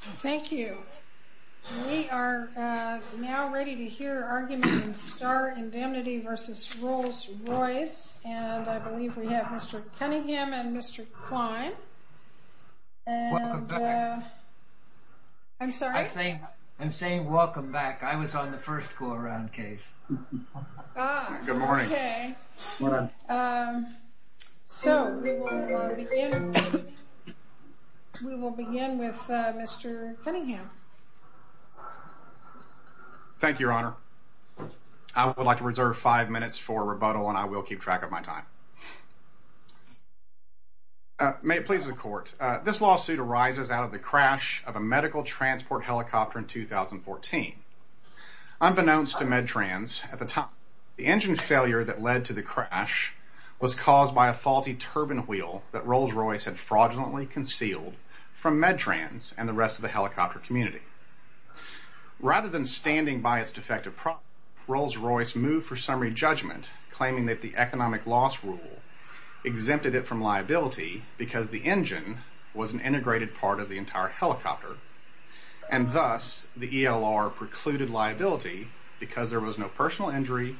Thank you. We are now ready to hear argument in Starr Indemnity v. Rolls-Royce and I believe we have Mr. Cunningham and Mr. Klein. Welcome back. I'm sorry? I'm saying welcome back. I was on the first go-around case. Ah, okay. Good morning. So, we will begin with Mr. Cunningham. Thank you, Your Honor. I would like to reserve five minutes for rebuttal and I will keep track of my time. May it please the Court. This lawsuit arises out of the crash of a medical transport helicopter in 2014. Unbeknownst to MedTrans, at the time, the engine failure that led to the crash was caused by a faulty turbine wheel that Rolls-Royce had fraudulently concealed from MedTrans and the rest of the helicopter community. Rather than standing by its defective product, Rolls-Royce moved for summary judgment claiming that the economic loss rule exempted it from liability because the engine was an integrated part of the entire helicopter and thus the ELR precluded liability because there was no personal injury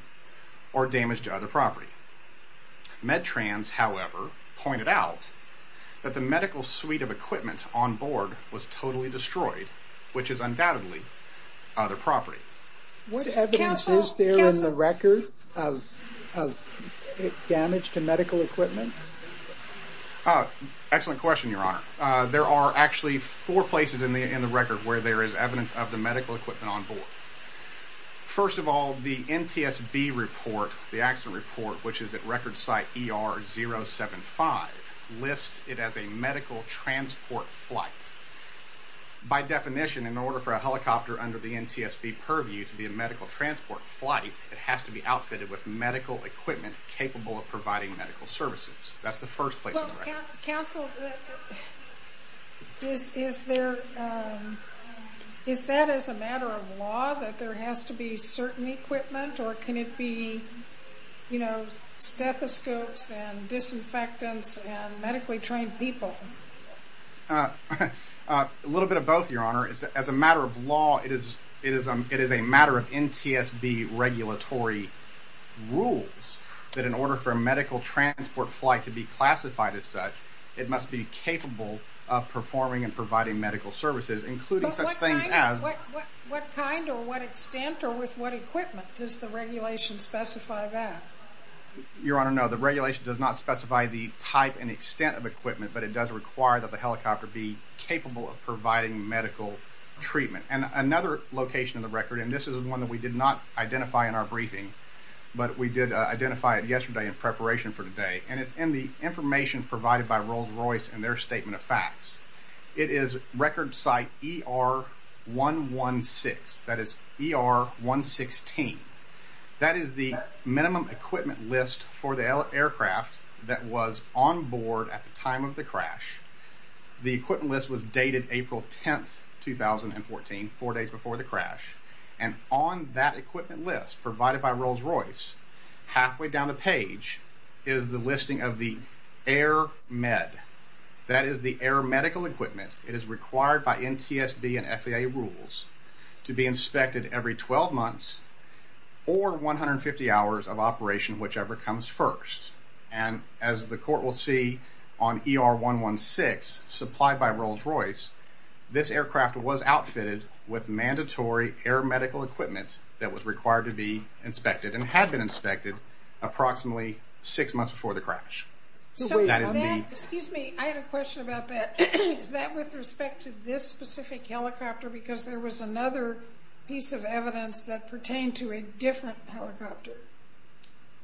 or damage to other property. MedTrans, however, pointed out that the medical suite of equipment on board was totally destroyed, which is undoubtedly other property. What evidence is there in the record of damage to medical equipment? Excellent question, Your Honor. There are actually four places in the record where there is evidence of the medical equipment on board. First of all, the NTSB report, the accident report, which is at record site ER 075, lists it as a medical transport flight. By definition, in order for a helicopter under the NTSB purview to be a medical transport flight, it has to be outfitted with medical equipment capable of providing medical services. That's the first place in the record. Counsel, is that as a matter of law that there has to be certain equipment or can it be stethoscopes and disinfectants and medically trained people? A little bit of both, Your Honor. As a matter of law, it is a matter of NTSB regulatory rules that in order for a medical transport flight to be classified as such, it must be capable of performing and providing medical services, including such things as... What kind or what extent or with what equipment? Does the regulation specify that? Your Honor, no. The regulation does not specify the type and extent of equipment, but it does require that the helicopter be capable of providing medical treatment. Another location in the record, and this is one that we did not identify in our briefing, but we did identify it yesterday in preparation for today, and it's in the information provided by Rolls-Royce and their statement of facts. It is record site ER116. That is ER116. That is the minimum equipment list for the aircraft that was on board at the time of the crash. four days before the crash, and on that equipment list provided by Rolls-Royce, halfway down the page is the listing of the air med. That is the air medical equipment. It is required by NTSB and FAA rules to be inspected every 12 months or 150 hours of operation, whichever comes first. And as the court will see on ER116 supplied by Rolls-Royce, this aircraft was outfitted with mandatory air medical equipment that was required to be inspected and had been inspected approximately six months before the crash. Excuse me, I had a question about that. Is that with respect to this specific helicopter because there was another piece of evidence that pertained to a different helicopter?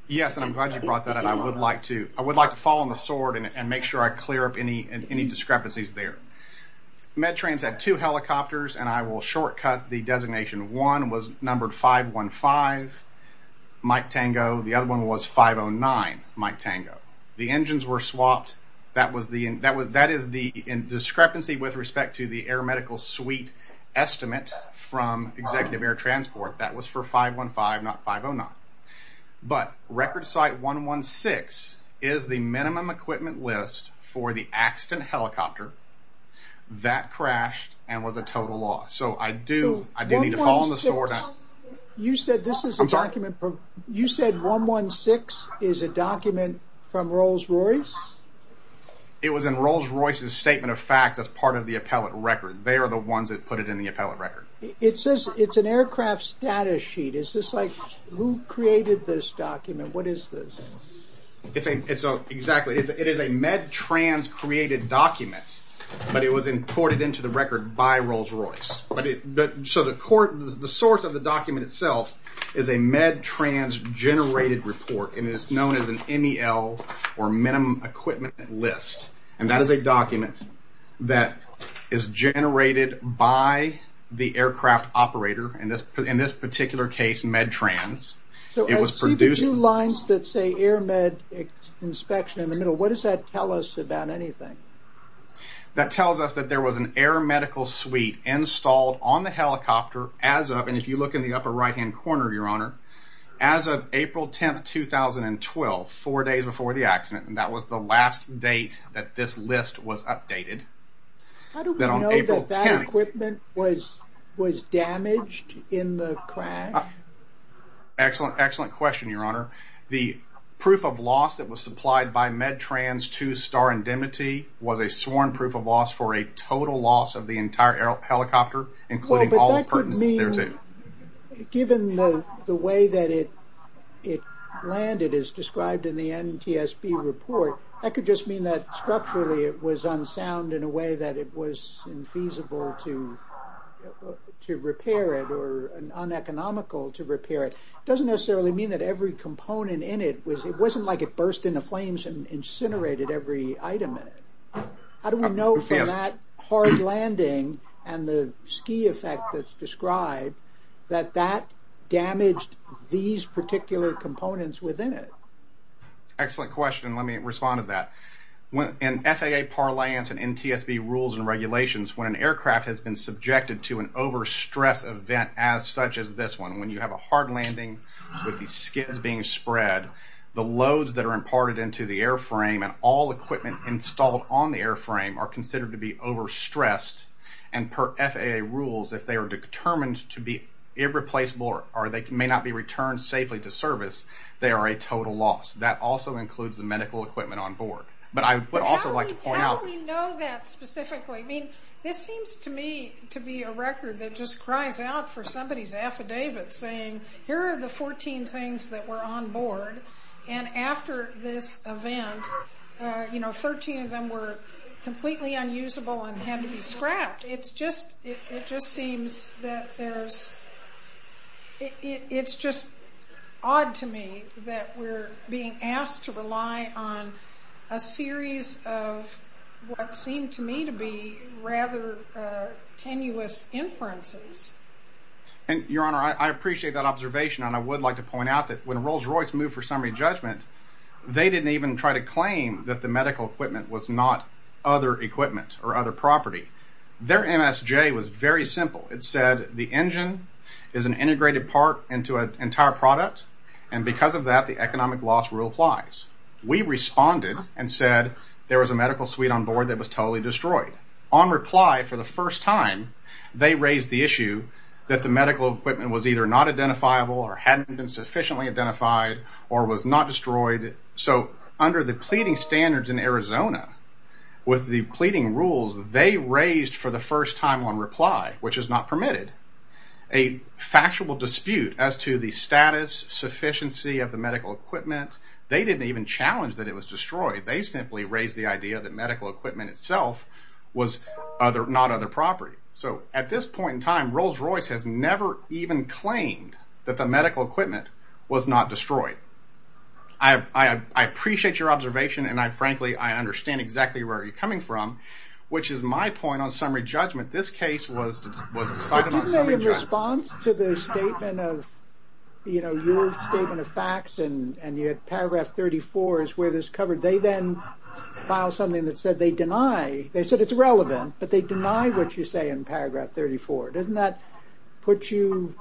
Yes, and I'm glad you brought that up. I would like to fall on the sword and make sure I clear up any discrepancies there. MedTrans had two helicopters, and I will shortcut the designation. One was numbered 515, Mike Tango. The other one was 509, Mike Tango. The engines were swapped. That is the discrepancy with respect to the air medical suite estimate from Executive Air Transport. That was for 515, not 509. But Record Site 116 is the minimum equipment list for the accident helicopter that crashed and was a total loss. So I do need to fall on the sword. You said 116 is a document from Rolls-Royce? It was in Rolls-Royce's statement of fact as part of the appellate record. They are the ones that put it in the appellate record. It says it's an aircraft status sheet. Is this like who created this document? What is this? It is a MedTrans-created document, but it was imported into the record by Rolls-Royce. The source of the document itself is a MedTrans-generated report. It is known as an MEL, or minimum equipment list. That is a document that is generated by the aircraft operator. In this particular case, MedTrans. I see the two lines that say air med inspection in the middle. What does that tell us about anything? That tells us that there was an air medical suite installed on the helicopter as of, and if you look in the upper right-hand corner, Your Honor, as of April 10, 2012, four days before the accident. That was the last date that this list was updated. How do we know that that equipment was damaged in the crash? Excellent question, Your Honor. The proof of loss that was supplied by MedTrans to Star Indemnity was a sworn proof of loss for a total loss of the entire helicopter, including all the pertinences thereto. Given the way that it landed as described in the NTSB report, that could just mean that structurally it was unsound in a way that it was infeasible to repair it or uneconomical to repair it. It doesn't necessarily mean that every component in it was, it wasn't like it burst into flames and incinerated every item in it. How do we know from that hard landing and the ski effect that's described that that damaged these particular components within it? Excellent question. Let me respond to that. In FAA parlance and NTSB rules and regulations, when an aircraft has been subjected to an overstress event as such as this one, when you have a hard landing with these skids being spread, the loads that are imparted into the airframe and all equipment installed on the airframe are considered to be overstressed, and per FAA rules, if they are determined to be irreplaceable or they may not be returned safely to service, they are a total loss. That also includes the medical equipment on board. How do we know that specifically? This seems to me to be a record that just cries out for somebody's affidavit saying here are the 14 things that were on board, and after this event 13 of them were completely unusable and had to be scrapped. It's just odd to me that we're being asked to rely on a series of what seem to me to be rather tenuous inferences. Your Honor, I appreciate that observation, and I would like to point out that when Rolls-Royce moved for summary judgment, they didn't even try to claim that the medical equipment was not other equipment or other property. Their MSJ was very simple. It said the engine is an integrated part into an entire product, and because of that the economic loss rule applies. We responded and said there was a medical suite on board that was totally destroyed. On reply, for the first time, they raised the issue that the medical equipment was either not identifiable or hadn't been sufficiently identified or was not destroyed. So under the pleading standards in Arizona, with the pleading rules, they raised for the first time on reply, which is not permitted, a factual dispute as to the status, sufficiency of the medical equipment. They didn't even challenge that it was destroyed. They simply raised the idea that medical equipment itself was not other property. So at this point in time, Rolls-Royce has never even claimed that the medical equipment was not destroyed. I appreciate your observation, and frankly I understand exactly where you're coming from, which is my point on summary judgment. This case was decided on summary judgment. But didn't they, in response to the statement of, you know, your statement of facts, and you had paragraph 34 is where this covered, they then filed something that said they deny, they said it's relevant, but they deny what you say in paragraph 34. Doesn't that put you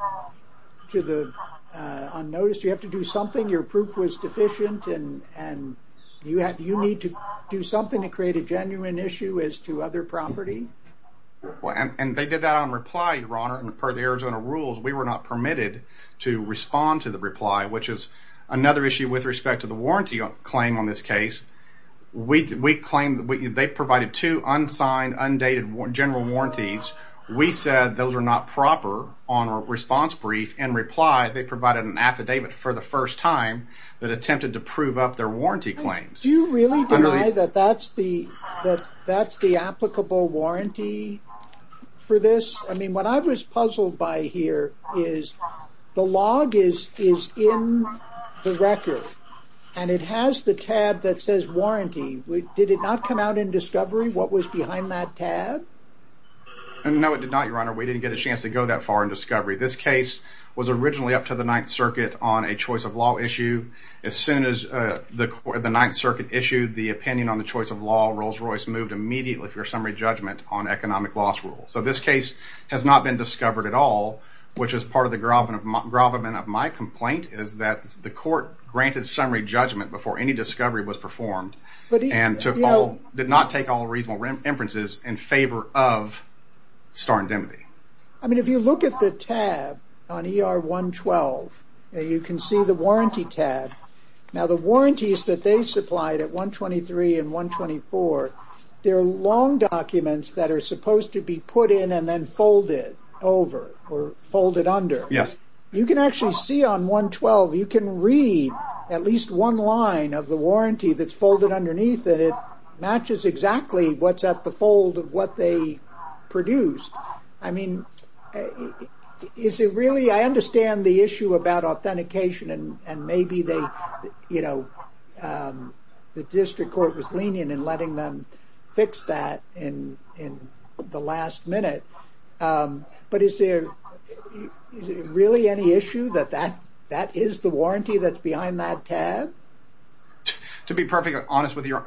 to the unnoticed? You have to do something, your proof was deficient, and you need to do something to create a genuine issue as to other property? And they did that on reply, Your Honor, and per the Arizona rules, we were not permitted to respond to the reply, which is another issue with respect to the warranty claim on this case. We claim they provided two unsigned, undated general warranties. We said those are not proper on a response brief, in reply they provided an affidavit for the first time that attempted to prove up their warranty claims. Do you really deny that that's the applicable warranty for this? I mean, what I was puzzled by here is the log is in the record, and it has the tab that says warranty. Did it not come out in discovery what was behind that tab? No, it did not, Your Honor. We didn't get a chance to go that far in discovery. This case was originally up to the Ninth Circuit on a choice of law issue. As soon as the Ninth Circuit issued the opinion on the choice of law, Rolls-Royce moved immediately for summary judgment on economic loss rules. So this case has not been discovered at all, which is part of the gravamen of my complaint, is that the court granted summary judgment before any discovery was performed, and did not take all reasonable inferences in favor of star indemnity. I mean, if you look at the tab on ER 112, you can see the warranty tab. Now, the warranties that they supplied at 123 and 124, they're long documents that are supposed to be put in and then folded over or folded under. Yes. You can actually see on 112, you can read at least one line of the warranty that's folded underneath, and it matches exactly what's at the fold of what they produced. I mean, is it really? I understand the issue about authentication, and maybe the district court was lenient in letting them fix that in the last minute, but is there really any issue that that is the warranty that's behind that tab? To be perfectly honest with you,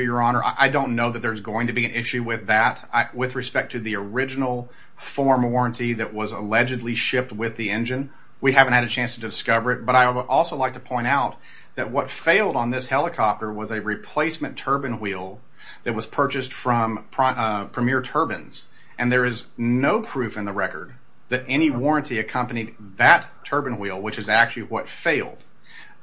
Your Honor, I don't know that there's going to be an issue with that with respect to the original form warranty that was allegedly shipped with the engine. We haven't had a chance to discover it, but I would also like to point out that what failed on this helicopter was a replacement turbine wheel that was purchased from Premier Turbines, and there is no proof in the record that any warranty accompanied that turbine wheel, which is actually what failed.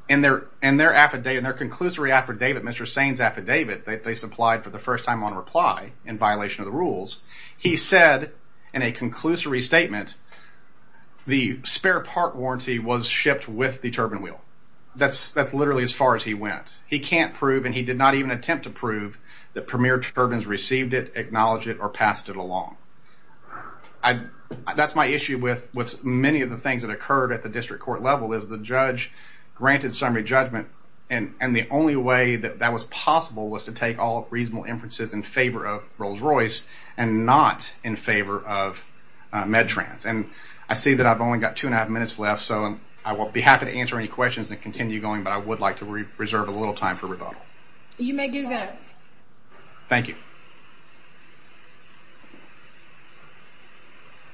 In their conclusory affidavit, Mr. Sane's affidavit, that they supplied for the first time on reply in violation of the rules, he said in a conclusory statement, the spare part warranty was shipped with the turbine wheel. That's literally as far as he went. He can't prove, and he did not even attempt to prove, that Premier Turbines received it, acknowledged it, or passed it along. That's my issue with many of the things that occurred at the district court level is the judge granted summary judgment, and the only way that that was possible was to take all reasonable inferences in favor of Rolls-Royce and not in favor of Medtrans. I see that I've only got two and a half minutes left, so I won't be happy to answer any questions and continue going, but I would like to reserve a little time for rebuttal. You may do that. Thank you.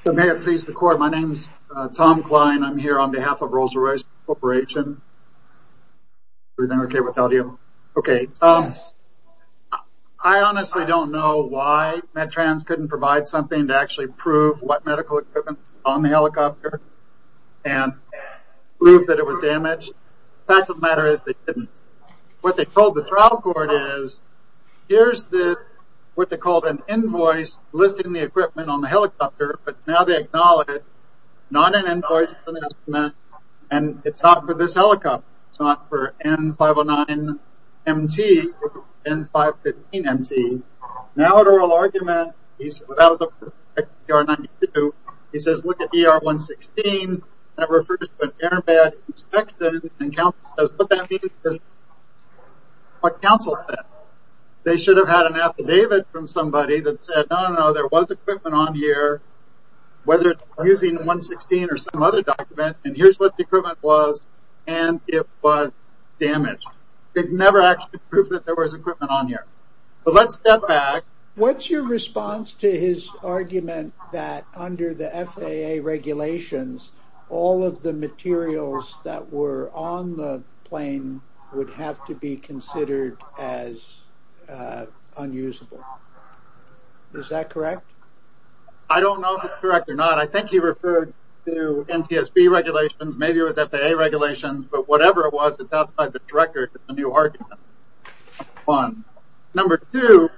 May it please the court. My name is Tom Klein. I'm here on behalf of Rolls-Royce Corporation. Everything okay with audio? Okay. I honestly don't know why Medtrans couldn't provide something to actually prove what medical equipment was on the helicopter and prove that it was damaged. The fact of the matter is they didn't. What they told the trial court is, here's what they called an invoice listing the equipment on the helicopter, but now they acknowledge it's not an invoice, and it's not for this helicopter. It's not for N509MT or N515MT. Now the oral argument, he says, look at ER 116. That refers to an airbag inspected, and counsel says, what that means is what counsel said. They should have had an affidavit from somebody that said, no, no, no, there was equipment on here, whether it's using 116 or some other document, and here's what the equipment was, and it was damaged. They've never actually proved that there was equipment on here. But let's step back. What's your response to his argument that under the FAA regulations, all of the materials that were on the plane would have to be considered as unusable? Is that correct? I don't know if it's correct or not. I think he referred to NTSB regulations. Maybe it was FAA regulations, but whatever it was, it's outside the record. It's a new argument. Number two,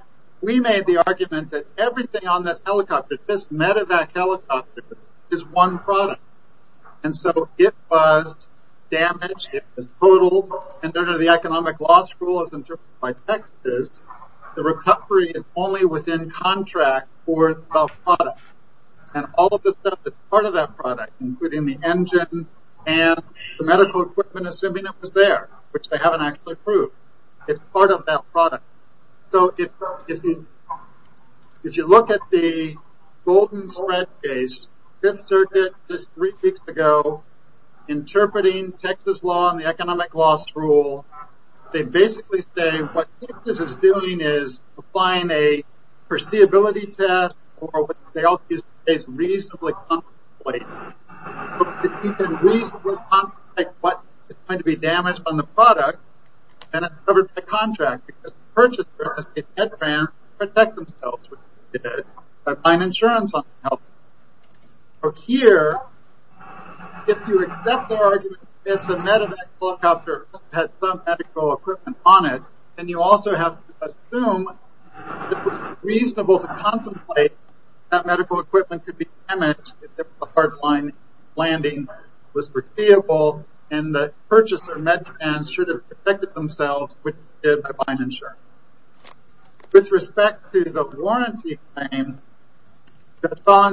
we made the argument that everything on this helicopter, this medevac helicopter, is one product. And so it was damaged, it was totaled, and under the economic law school as interpreted by Texas, the recovery is only within contract for the product. And all of the stuff that's part of that product, including the engine and the medical equipment, assuming it was there, which they haven't actually proved, it's part of that product. So if you look at the Golden Thread case, Fifth Circuit just three weeks ago, interpreting Texas law and the economic loss rule, they basically say what Texas is doing is applying a foreseeability test or what they also use to say is reasonably contemplative. So if you can reasonably contemplate what is going to be damaged on the product, then it's covered by contract because the purchaser has to get head trans to protect themselves, which they did, by applying insurance on the helicopter. Here, if you accept their argument that it's a medevac helicopter that has some medical equipment on it, then you also have to assume that it's reasonable to contemplate that medical equipment could be damaged if a hard landing was foreseeable and the purchaser med trans should have protected themselves, which they did by applying insurance. With respect to the warranty claim,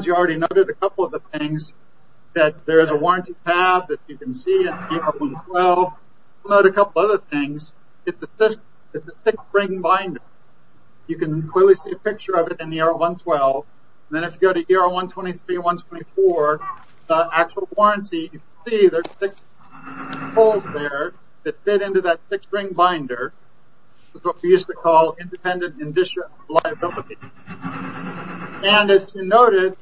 you already noted a couple of the things that there is a warranty tab that you can see in AR-112. You'll note a couple of other things. It's a six-ring binder. You can clearly see a picture of it in the AR-112. Then if you go to AR-123 and AR-124, the actual warranty, you can see there's six holes there that fit into that six-ring binder. It's what we used to call independent and district liability. As you noted,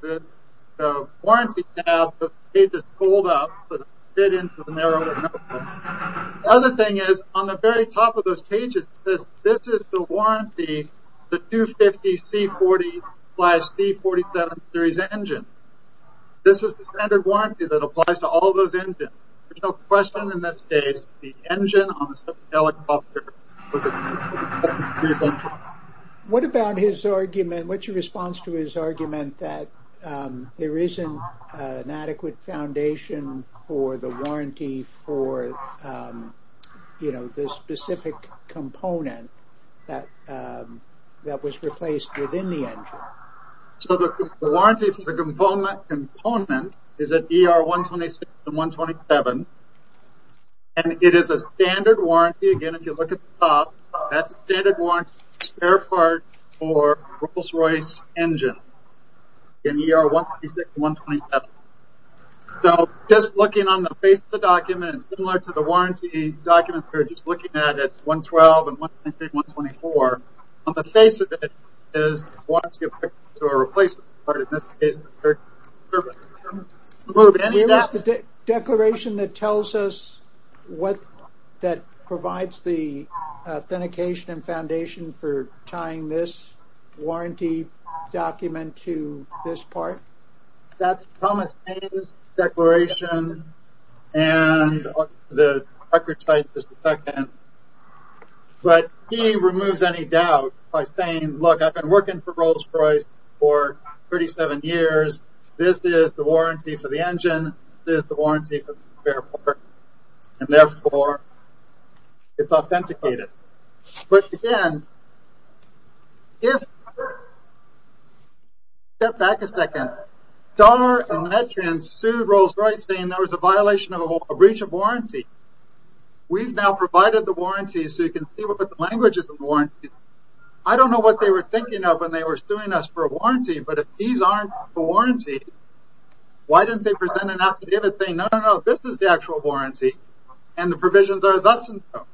the warranty tab, the pages fold up to fit into the narrower notebook. The other thing is, on the very top of those pages, this is the warranty, the 250 C-40 slash C-47 series engine. This is the standard warranty that applies to all those engines. There's no question in this case, the engine on this helicopter was a C-47 series engine. What about his argument, what's your response to his argument that there isn't an adequate foundation for the warranty for the specific component that was replaced within the engine? The warranty for the component is at AR-126 and 127. It is a standard warranty. Again, if you look at the top, that's a standard warranty for a spare part for a Rolls-Royce engine in AR-126 and 127. Just looking on the face of the document, it's similar to the warranty document we were just looking at at AR-112 and AR-123 and AR-124. On the face of it is the warranty applicable to a replacement part. In this case, it's a spare part. Where is the declaration that tells us what that provides the authentication and foundation for tying this warranty document to this part? That's Thomas' declaration and the record site is the second. But he removes any doubt by saying, look, I've been working for Rolls-Royce for 37 years. This is the warranty for the engine. This is the warranty for the spare part. And, therefore, it's authenticated. But, again, if you step back a second, Dahler and Mettrian sued Rolls-Royce saying there was a violation of a breach of warranty. We've now provided the warranty so you can see what the language is in the warranty. I don't know what they were thinking of when they were suing us for a warranty, but if these aren't the warranty, why didn't they present an affidavit saying, no, no, no, this is the actual warranty and the provisions are thus and so?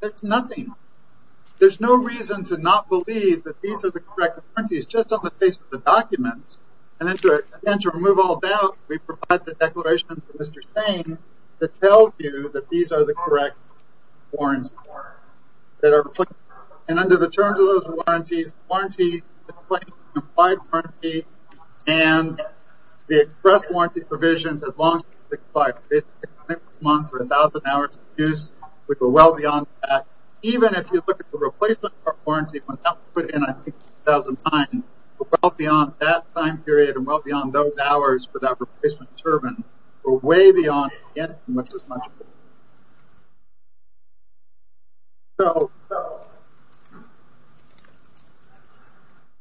There's nothing. There's no reason to not believe that these are the correct warranties just on the face of the documents. And then to remove all doubt, we provide the declaration from Mr. Payne that tells you that these are the correct warranties. And under the terms of those warranties, the warranty, the compliant warranty, and the express warranty provisions have long since expired. Basically, six months or 1,000 hours of use, we go well beyond that. Even if you look at the replacement warranty, when that was put in, I think, in 2009, we're well beyond that time period and well beyond those hours for that and well beyond that. So,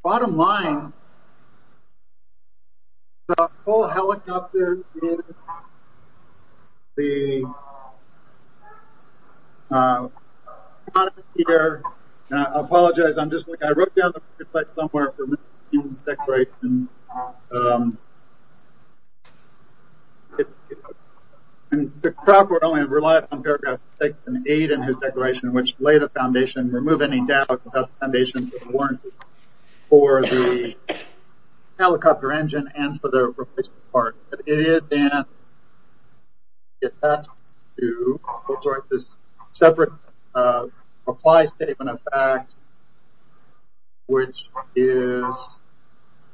bottom line, the whole helicopter is the, I apologize, I wrote down the website somewhere for Mr. Payne's declaration. The crop would only rely on paragraph six and eight in his declaration, which lay the foundation, remove any doubt about the foundation for the warranty for the helicopter engine and for the replacement part. But it is then attached to this separate reply statement of facts, which is,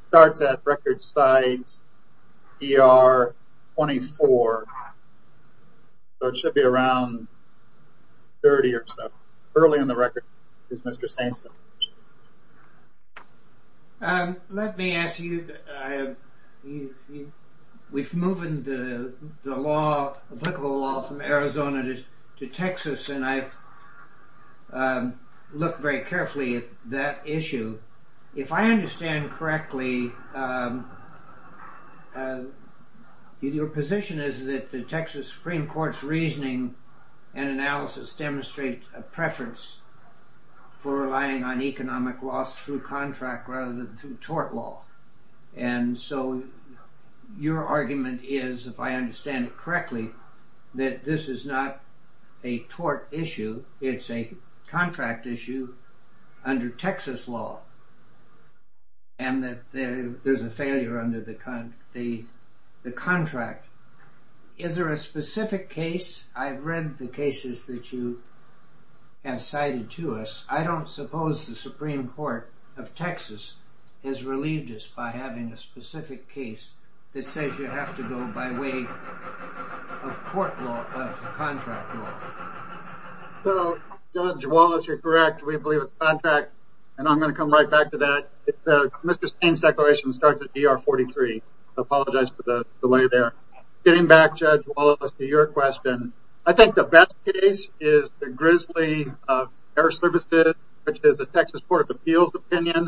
starts at record site ER 24. So, it should be around 30 or so. Early in the record is Mr. Saintsville. Let me ask you, we've moved the law, applicable law from Arizona to Texas, and I've looked very carefully at that issue. If I understand correctly, your position is that the Texas Supreme Court's reasoning and analysis demonstrate a preference for relying on economic loss through contract rather than through tort law. And so, your argument is, if I understand it correctly, that this is not a tort issue, it's a contract issue under Texas law, and that there's a failure under the contract. Is there a specific case? I've read the cases that you have cited to us. I don't suppose the Supreme Court of Texas has relieved us by having a contract law. So, Judge Wallace, you're correct. We believe it's a contract, and I'm going to come right back to that. Mr. Saints declaration starts at ER 43. I apologize for the delay there. Getting back, Judge Wallace, to your question, I think the best case is the Grizzly Air Services, which is the Texas Court of Appeals opinion.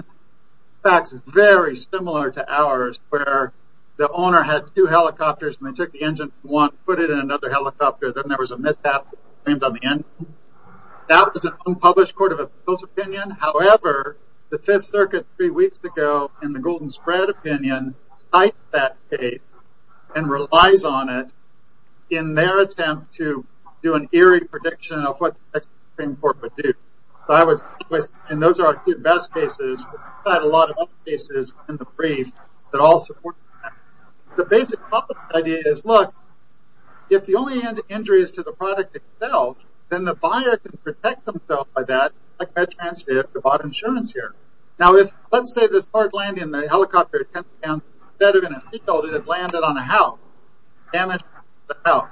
The facts are very similar to ours, where the owner had two helicopters and they took the engine from one, and put it in another helicopter. Then there was a mishap that was claimed on the engine. That was an unpublished Court of Appeals opinion. However, the Fifth Circuit, three weeks ago, in the Golden Spread opinion, cited that case and relies on it in their attempt to do an eerie prediction of what the Supreme Court would do. And those are our two best cases. We've had a lot of other cases in the brief that all support that. The basic policy idea is, look, if the only injury is to the product itself, then the buyer can protect themselves by that, like I transcribed the bottom assurance here. Now, let's say this part landed in the helicopter, instead of in a seat belt, it landed on a house. Damage to the house.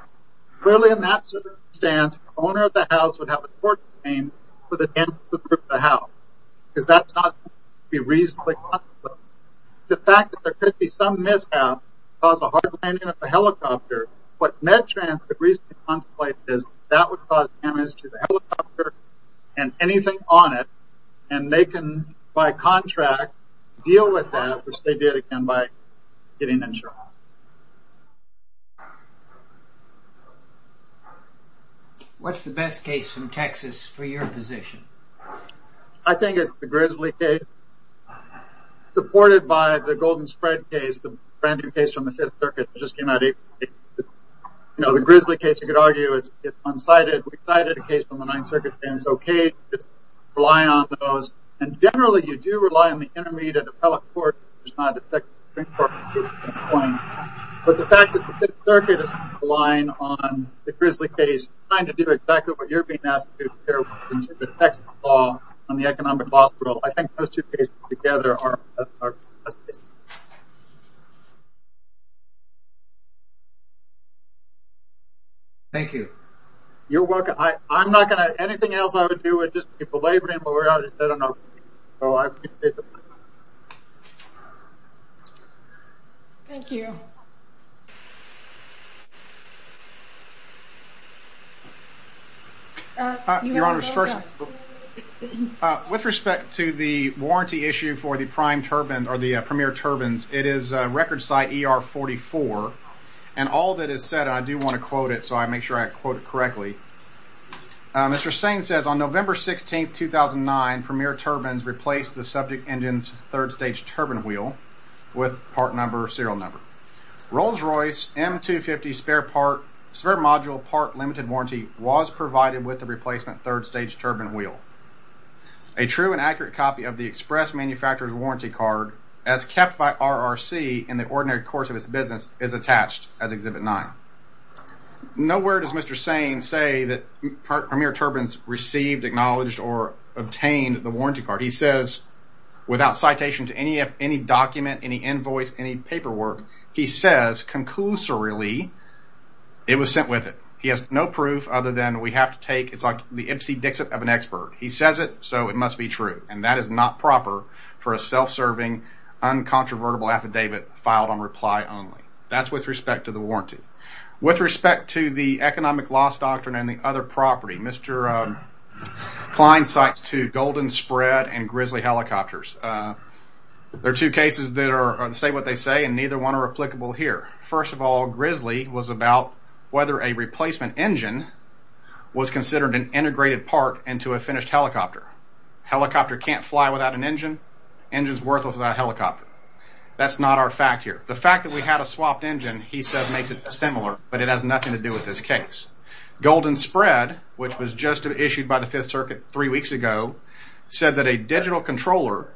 Clearly, in that circumstance, the owner of the house would have a court claim for the damage to the roof of the house, because that's not going to be reasonably possible. So, the fact that there could be some mishap that caused a hard landing of the helicopter, what MedTrans could reasonably contemplate is that would cause damage to the helicopter and anything on it, and they can, by contract, deal with that, which they did, again, by getting insurance. What's the best case from Texas for your position? I think it's the Grizzly case. Supported by the Golden Spread case, the brand-new case from the Fifth Circuit, which just came out eight weeks ago. You know, the Grizzly case, you could argue, it's unsighted. We cited a case from the Ninth Circuit, and it's okay. Just rely on those. And generally, you do rely on the intermediate appellate court if there's not a second Supreme Court ruling at that point. But the fact that the Fifth Circuit is relying on the Grizzly case trying to do exactly what you're being asked to do here with respect to the Texas law on the economic hospital, I think those two cases together are... Thank you. You're welcome. I'm not going to... Anything else I would do would just be belabouring, but I don't know. So I appreciate the time. Thank you. Your Honours, first... With respect to the warranty issue for the Prime Turbine, or the Premier Turbines, it is record site ER44. And all that is said, and I do want to quote it, so I make sure I quote it correctly. Mr. Sain says, on November 16, 2009, Premier Turbines replaced the subject engine's third-stage turbine wheel with part number or serial number. Rolls-Royce M250 spare module part-limited warranty was provided with the replacement third-stage turbine wheel. A true and accurate copy of the express manufacturer's warranty card, as kept by RRC in the ordinary course of its business, is attached as Exhibit 9. Nowhere does Mr. Sain say that Premier Turbines received, acknowledged, or obtained the warranty card. He says, without citation to any document, any invoice, any paperwork, he says, conclusorily, it was sent with it. He has no proof other than we have to take... He says it, so it must be true, and that is not proper for a self-serving, uncontrovertible affidavit filed on reply only. That's with respect to the warranty. With respect to the economic loss doctrine and the other property, Mr. Klein cites two, Golden Spread and Grizzly helicopters. There are two cases that say what they say, and neither one are applicable here. First of all, Grizzly was about whether a replacement engine was considered an integrated part into a finished helicopter. A helicopter can't fly without an engine. An engine's worthless without a helicopter. That's not our fact here. The fact that we had a swapped engine, he says, makes it dissimilar, but it has nothing to do with this case. Golden Spread, which was just issued by the Fifth Circuit three weeks ago, said that a digital controller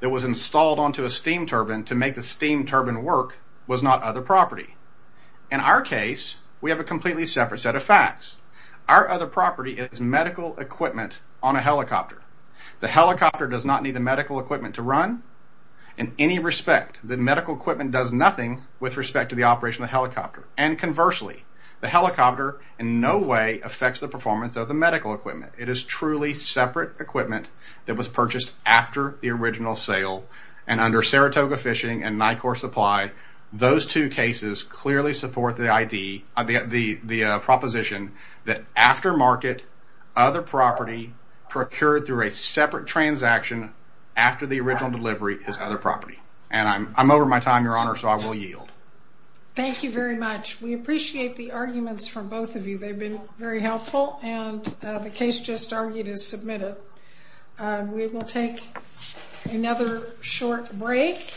that was installed onto a steam turbine to make the steam turbine work was not other property. In our case, we have a completely separate set of facts. Our other property is medical equipment on a helicopter. The helicopter does not need the medical equipment to run. In any respect, the medical equipment does nothing with respect to the operation of the helicopter. And conversely, the helicopter in no way affects the performance of the medical equipment. It is truly separate equipment that was purchased after the original sale, and under Saratoga Fishing and NICOR Supply, those two cases clearly support the proposition that after market, other property procured through a separate transaction after the original delivery is other property. I'm over my time, Your Honor, so I will yield. Thank you very much. We appreciate the arguments from both of you. They've been very helpful. The case just argued is submitted. We will take another short break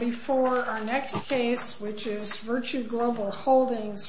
before our next case, which is Virtue Global Holdings v. Reardon.